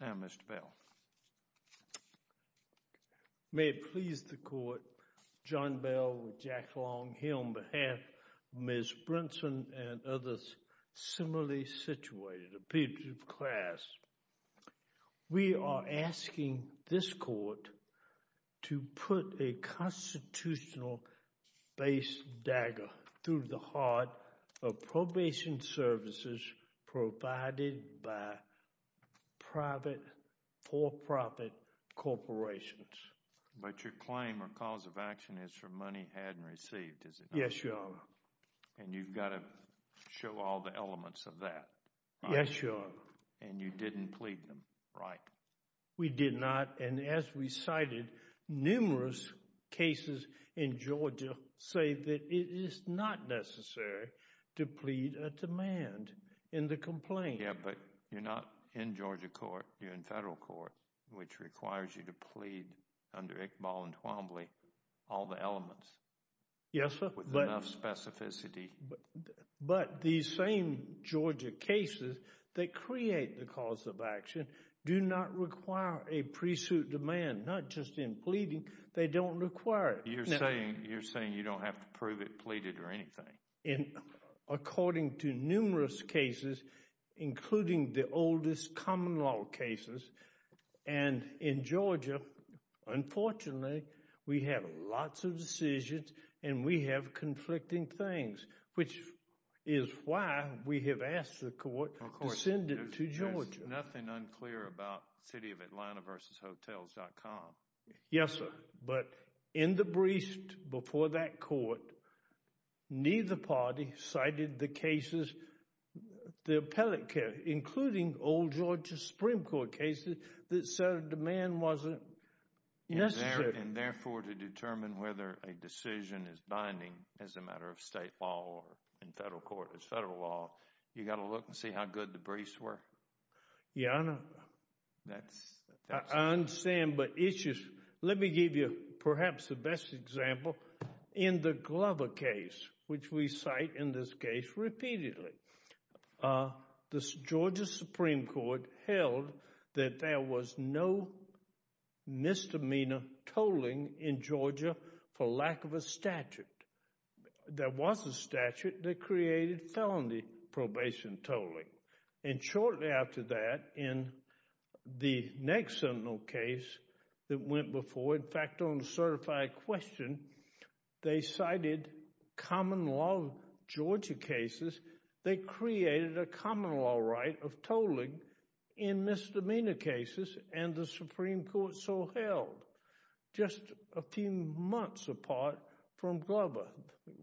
Now, Mr. Bell. May it please the Court, John Bell with Jack Long here on behalf of Ms. Brinson and others similarly situated, a peer-to-peer class, we are asking this Court to put a constitutional base dagger through the heart of probation services provided by private, for-profit corporations. But your claim or cause of action is for money had and received, is it not? Yes, Your Honor. And you've got to show all the elements of that, and you didn't plead them right. We did not. And as we cited, numerous cases in Georgia say that it is not necessary to plead a demand in the complaint. Yeah, but you're not in Georgia court, you're in federal court, which requires you to plead under Iqbal and Twombly all the elements. Yes, sir. With enough specificity. But these same Georgia cases that create the cause of action do not require a pre-suit demand, not just in pleading, they don't require it. You're saying you don't have to prove it pleaded or anything. According to numerous cases, including the oldest common law cases, and in Georgia, unfortunately, we have lots of decisions and we have conflicting things, which is why we have asked the court to send it to Georgia. There's nothing unclear about CityofAtlantaVersusHotels.com. Yes, sir. But in the briefs before that court, neither party cited the cases, the appellate cases, including old Georgia Supreme Court cases, that said a demand wasn't necessary. And therefore, to determine whether a decision is binding as a matter of state law or in federal court as federal law, you've got to look and see how good the briefs were. Yeah, I know. I understand, but let me give you perhaps the best example. In the Glover case, which we cite in this case repeatedly, the Georgia Supreme Court held that there was no misdemeanor tolling in Georgia for lack of a statute. There was a statute that created felony probation tolling. And shortly after that, in the next Sentinel case that went before, in fact, on a certified question, they cited common law Georgia cases. They created a common law right of tolling in misdemeanor cases, and the Supreme Court so held, just a few months apart from Glover.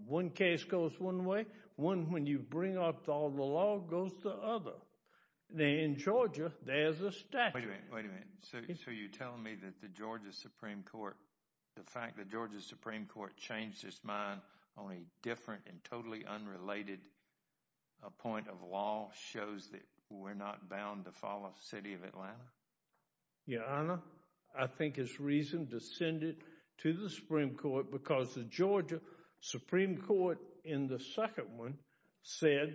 One case goes one way. One when you bring up all the law goes the other. In Georgia, there's a statute. Wait a minute. So you're telling me that the Georgia Supreme Court, the fact the Georgia Supreme Court changed its mind on a different and totally unrelated point of law shows that we're not bound to follow the city of Atlanta? Yeah, I think it's reason to send it to the Supreme Court because the Georgia Supreme Court in the second one said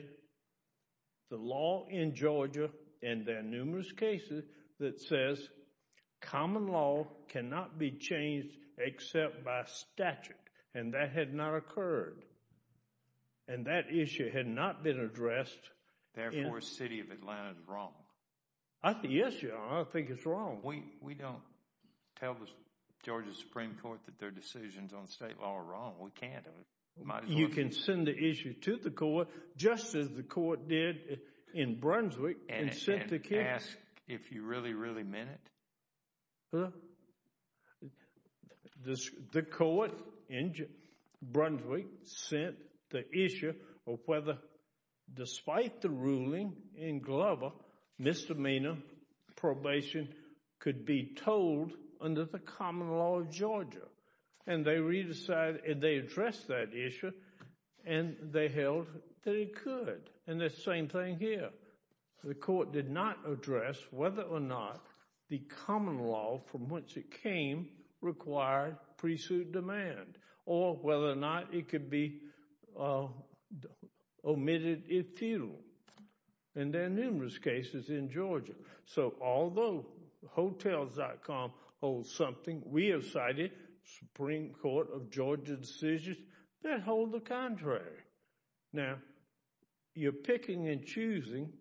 the law in Georgia, and there are numerous cases that says common law cannot be changed except by statute. And that had not occurred. And that issue had not been addressed. Therefore, the city of Atlanta is wrong. Yes, Your Honor, I think it's wrong. We don't tell the Georgia Supreme Court that their decisions on state law are wrong. We can't. You can send the issue to the court just as the court did in Brunswick and sent the case. May I ask if you really, really meant it? The court in Brunswick sent the issue of whether, despite the ruling in Glover, misdemeanor probation could be told under the common law of Georgia. And they re-decided and they addressed that issue and they held that it could. And the same thing here. The court did not address whether or not the common law from which it came required pre-suit demand or whether or not it could be omitted if futile. And there are numerous cases in Georgia. So although Hotels.com holds something, we have cited Supreme Court of Georgia decisions that hold the contrary. Now, you're picking and choosing.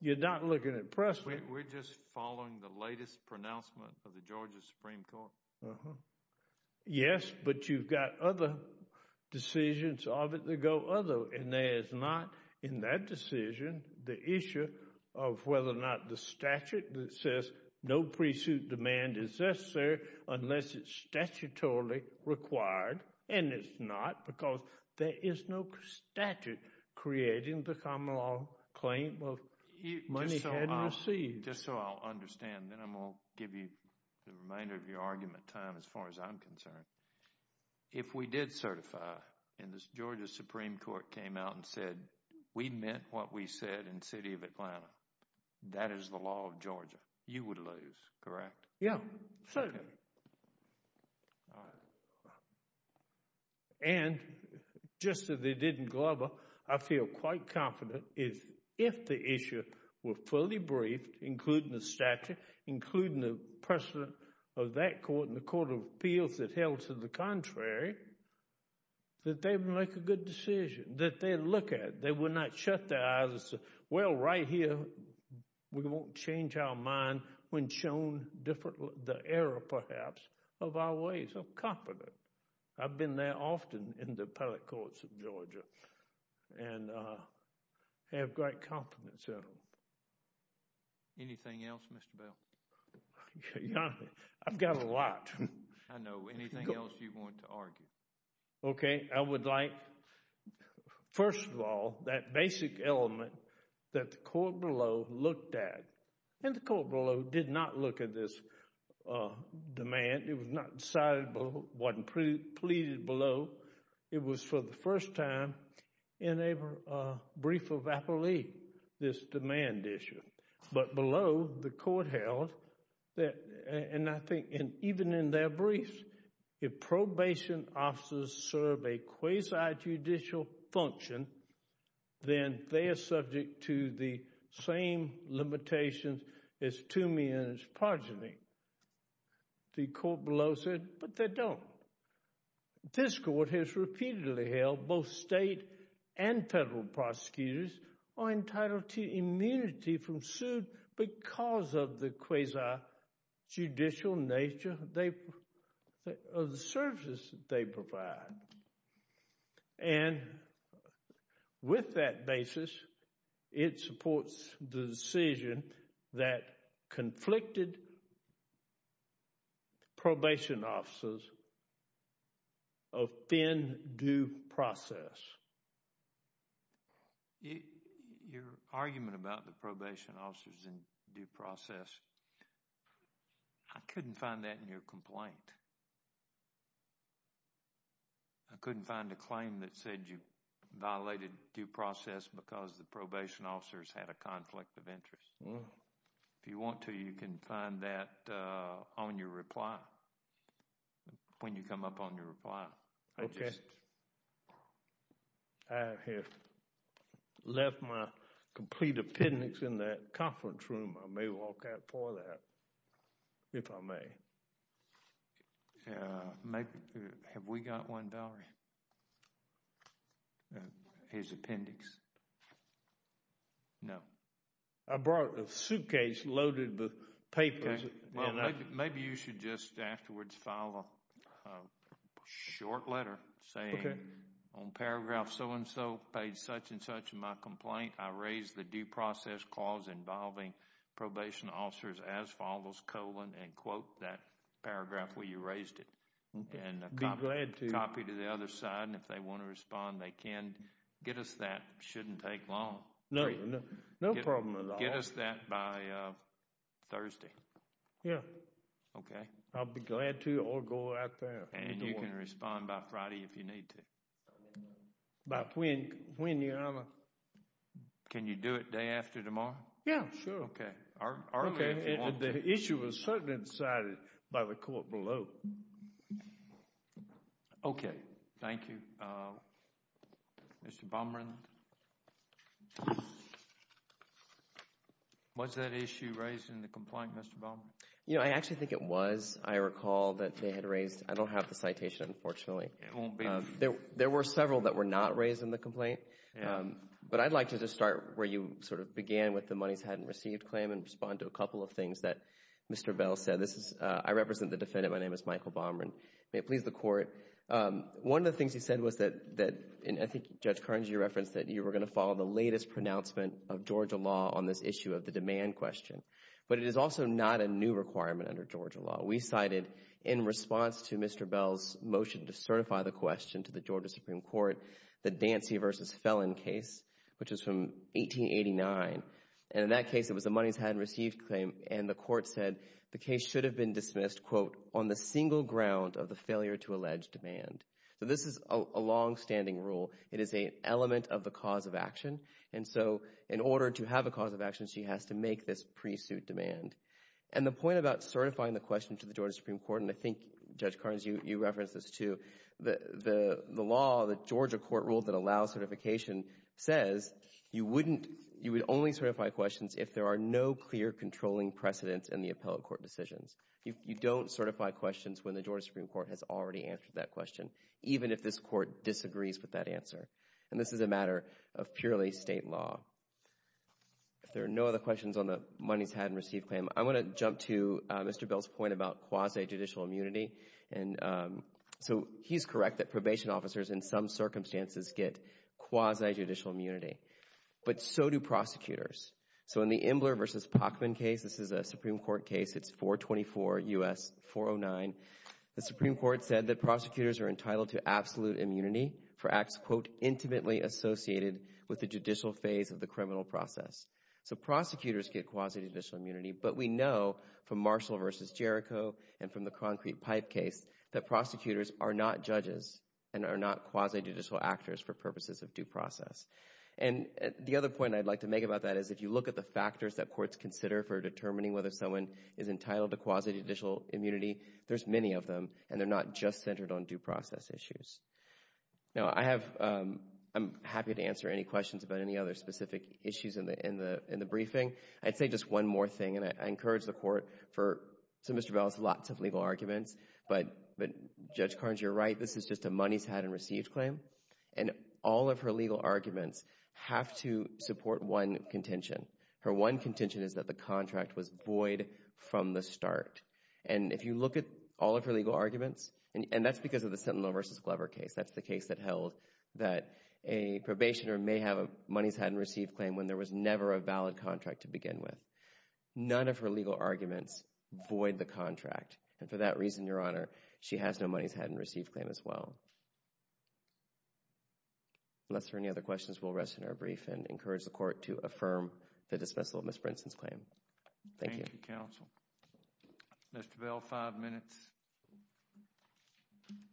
You're not looking at Preston. We're just following the latest pronouncement of the Georgia Supreme Court. Yes, but you've got other decisions of it that go other. And there is not in that decision the issue of whether or not the statute that says no is statutorily required. And it's not because there is no statute creating the common law claim of money hadn't received. Just so I'll understand, then I'm going to give you the remainder of your argument time as far as I'm concerned. If we did certify and the Georgia Supreme Court came out and said, we meant what we said in the city of Atlanta, that is the law of Georgia, you would lose, correct? Yeah, certainly. And just as they did in Glover, I feel quite confident if the issue were fully briefed, including the statute, including the precedent of that court and the Court of Appeals that held to the contrary, that they would make a good decision, that they'd look at it. They would not shut their eyes and say, well, right here, we won't change our mind when we've shown the error, perhaps, of our ways. I'm confident. I've been there often in the appellate courts of Georgia and have great confidence in them. Anything else, Mr. Bell? I've got a lot. I know. Anything else you want to argue? Okay. I would like, first of all, that basic element that the court below looked at, and the court below did not look at this demand, it was not decided below, wasn't pleaded below. It was for the first time in a brief of appellee, this demand issue. But below, the court held, and I think even in their briefs, if probation officers serve a quasi-judicial function, then they are subject to the same limitations as two men is progeny. The court below said, but they don't. This court has repeatedly held both state and federal prosecutors are entitled to immunity from suit because of the quasi-judicial nature of the services that they provide. And with that basis, it supports the decision that conflicted probation officers offend due process. Your argument about the probation officers in due process, I couldn't find that in your complaint. I couldn't find a claim that said you violated due process because the probation officers had a conflict of interest. If you want to, you can find that on your reply, when you come up on your reply. Okay. I have left my complete appendix in that conference room. I may walk out for that, if I may. Have we got one, Valerie? His appendix? I brought a suitcase loaded with papers. Well, maybe you should just afterwards file a short letter saying, on paragraph so-and-so paid such-and-such in my complaint, I raise the due process clause involving probation officers as follows, colon, and quote that paragraph where you raised it, and a copy to the other side. And if they want to respond, they can. Get us that. It shouldn't take long. No problem at all. Get us that by Thursday. Yeah. Okay. I'll be glad to, or go out there. And you can respond by Friday, if you need to. By when, Your Honor. Can you do it day after tomorrow? Yeah, sure. Okay. Earlier, if you want to. The issue was certainly decided by the court below. Okay. Thank you. Mr. Bumrin. Was that issue raised in the complaint, Mr. Bumrin? You know, I actually think it was. I recall that they had raised, I don't have the citation, unfortunately. There were several that were not raised in the complaint. But I'd like to just start where you sort of began with the monies hadn't received claim and respond to a couple of things that Mr. Bell said. This is, I represent the defendant. My name is Michael Bumrin. May it please the court. One of the things he said was that, and I think Judge Kearns, you referenced that you were going to follow the latest pronouncement of Georgia law on this issue of the demand question. But it is also not a new requirement under Georgia law. We cited, in response to Mr. Bell's motion to certify the question to the Georgia Supreme Court, the Dancy v. Felon case, which was from 1889. And in that case, it was the monies hadn't received claim. And the court said the case should have been dismissed, quote, on the single ground of the failure to allege demand. So this is a longstanding rule. It is an element of the cause of action. And so in order to have a cause of action, she has to make this pre-suit demand. And the point about certifying the question to the Georgia Supreme Court, and I think, Judge Kearns, you referenced this too, the law, the Georgia court rule that allows certification says, you would only certify questions if there are no clear controlling precedents in the appellate court decisions. You don't certify questions when the Georgia Supreme Court has already answered that question, even if this court disagrees with that answer. And this is a matter of purely state law. If there are no other questions on the monies hadn't received claim, I want to jump to Mr. Bell's point about quasi-judicial immunity. And so he's correct that probation officers in some circumstances get quasi-judicial immunity. But so do prosecutors. So in the Imbler v. Pacman case, this is a Supreme Court case, it's 424 U.S. 409, the Supreme Court said that prosecutors are entitled to absolute immunity for acts, quote, intimately associated with the judicial phase of the criminal process. So prosecutors get quasi-judicial immunity, but we know from Marshall v. Jericho and from the Concrete Pipe case that prosecutors are not judges and are not quasi-judicial actors for purposes of due process. And the other point I'd like to make about that is if you look at the factors that courts consider for determining whether someone is entitled to quasi-judicial immunity, there's many of them, and they're not just centered on due process issues. Now I have, I'm happy to answer any questions about any other specific issues in the briefing. I'd say just one more thing, and I encourage the court for, so Mr. Bell has lots of legal arguments, but Judge Carnes, you're right, this is just a monies hadn't received claim. And all of her legal arguments have to support one contention. Her one contention is that the contract was void from the start. And if you look at all of her legal arguments, and that's because of the Sentinel v. Glover case, that's the case that held that a probationer may have a monies hadn't received claim when there was never a valid contract to begin with. None of her legal arguments void the contract, and for that reason, Your Honor, she has no monies hadn't received claim as well. Unless there are any other questions, we'll rest in our briefing and encourage the court to affirm the dismissal of Ms. Brinson's claim. Thank you. Thank you, counsel. Mr. Bell, five minutes.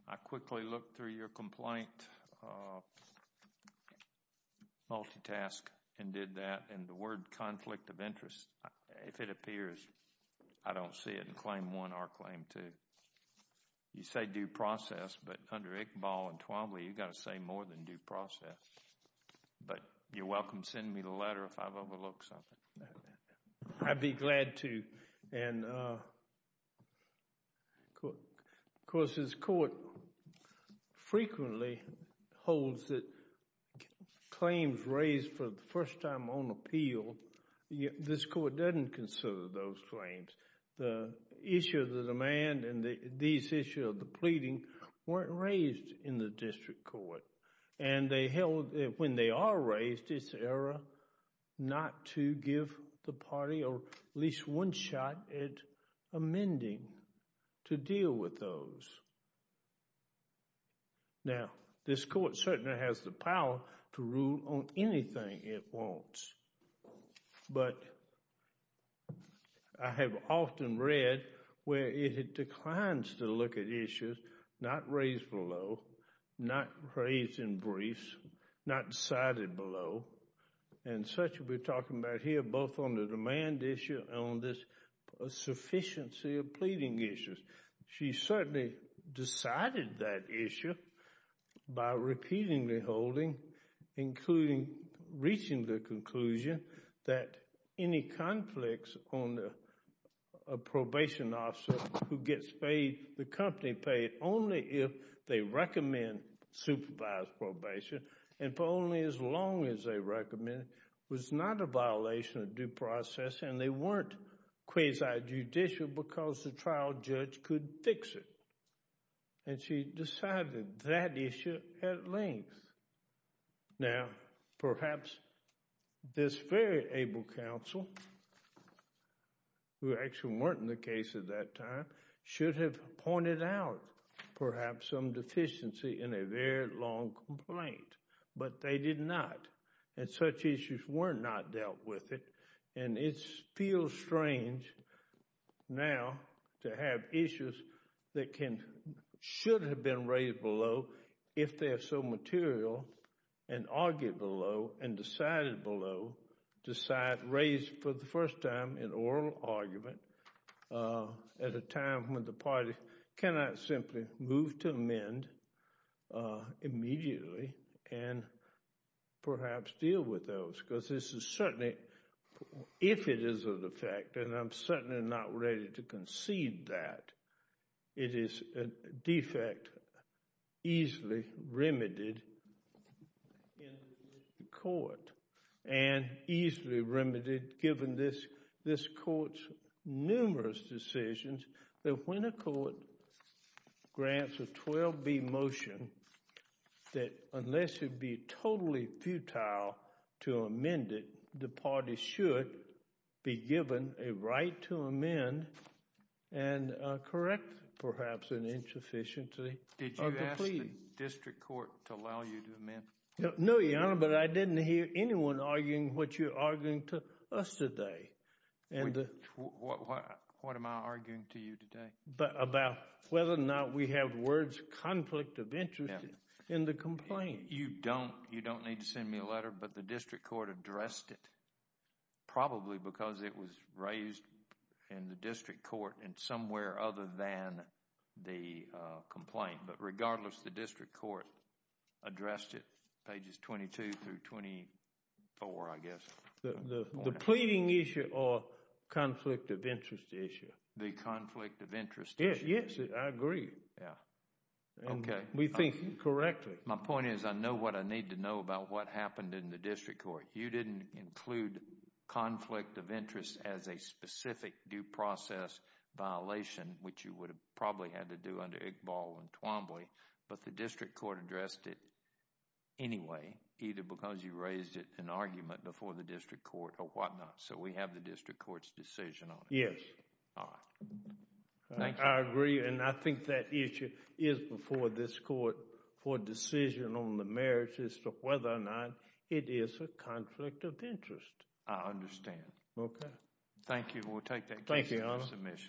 I quickly looked through your complaint multitask and did that, and the word conflict of interest, if it appears, I don't see it in claim one or claim two. You say due process, but under Iqbal and Twombly, you've got to say more than due process. But you're welcome to send me the letter if I've overlooked something. I'd be glad to. And of course, this court frequently holds that claims raised for the first time on appeal, this court doesn't consider those claims. The issue of the demand and these issues of the pleading weren't raised in the district court, and they held that when they are raised, it's error not to give the party at least one shot at amending to deal with those. Now, this court certainly has the power to rule on anything it wants, but I have often read where it declines to look at issues not raised below, not raised in briefs, not decided below, and such we're talking about here both on the demand issue and on this sufficiency of pleading issues. She certainly decided that issue by repeatedly holding, including reaching the conclusion that any conflicts on a probation officer who gets paid, the company paid only if they recommend supervised probation, and for only as long as they recommend, was not a violation of due process, and they weren't quasi-judicial because the trial judge could fix it. And she decided that issue at length. Now, perhaps this very able counsel, who actually weren't in the case at that time, should have pointed out perhaps some deficiency in a very long complaint, but they did not, and such issues were not dealt with, and it feels strange now to have issues that should have been raised below if they are so material and argued below and decided below, raised for the first time in oral argument at a time when the party cannot simply move to amend immediately and perhaps deal with those, because this is certainly, if it is a defect, and I'm certainly not ready to concede that, it is a defect easily remedied in the court, and easily remedied given this court's numerous decisions that when a court grants a 12B motion, that unless it be totally futile to amend it, the party should be given a right to amend and correct perhaps an insufficiency of the plea. Did you ask the district court to allow you to amend? No, Your Honor, but I didn't hear anyone arguing what you're arguing to us today. What am I arguing to you today? About whether or not we have words of conflict of interest in the complaint. You don't. You don't need to send me a letter, but the district court addressed it, probably because it was raised in the district court and somewhere other than the complaint, but regardless, the district court addressed it, pages 22 through 24, I guess. The pleading issue or conflict of interest issue? The conflict of interest issue. Yes, I agree. Yeah. Okay. We think correctly. My point is I know what I need to know about what happened in the district court. You didn't include conflict of interest as a specific due process violation, which you would have probably had to do under Iqbal and Twombly, but the district court addressed it anyway, either because you raised it in an argument before the district court or whatnot, so we have the district court's decision on it. Yes. All right. I agree, and I think that issue is before this court. For decision on the merits as to whether or not it is a conflict of interest. I understand. Okay. Thank you. We'll take that case for submission. Thank you, Your Honor. All rise.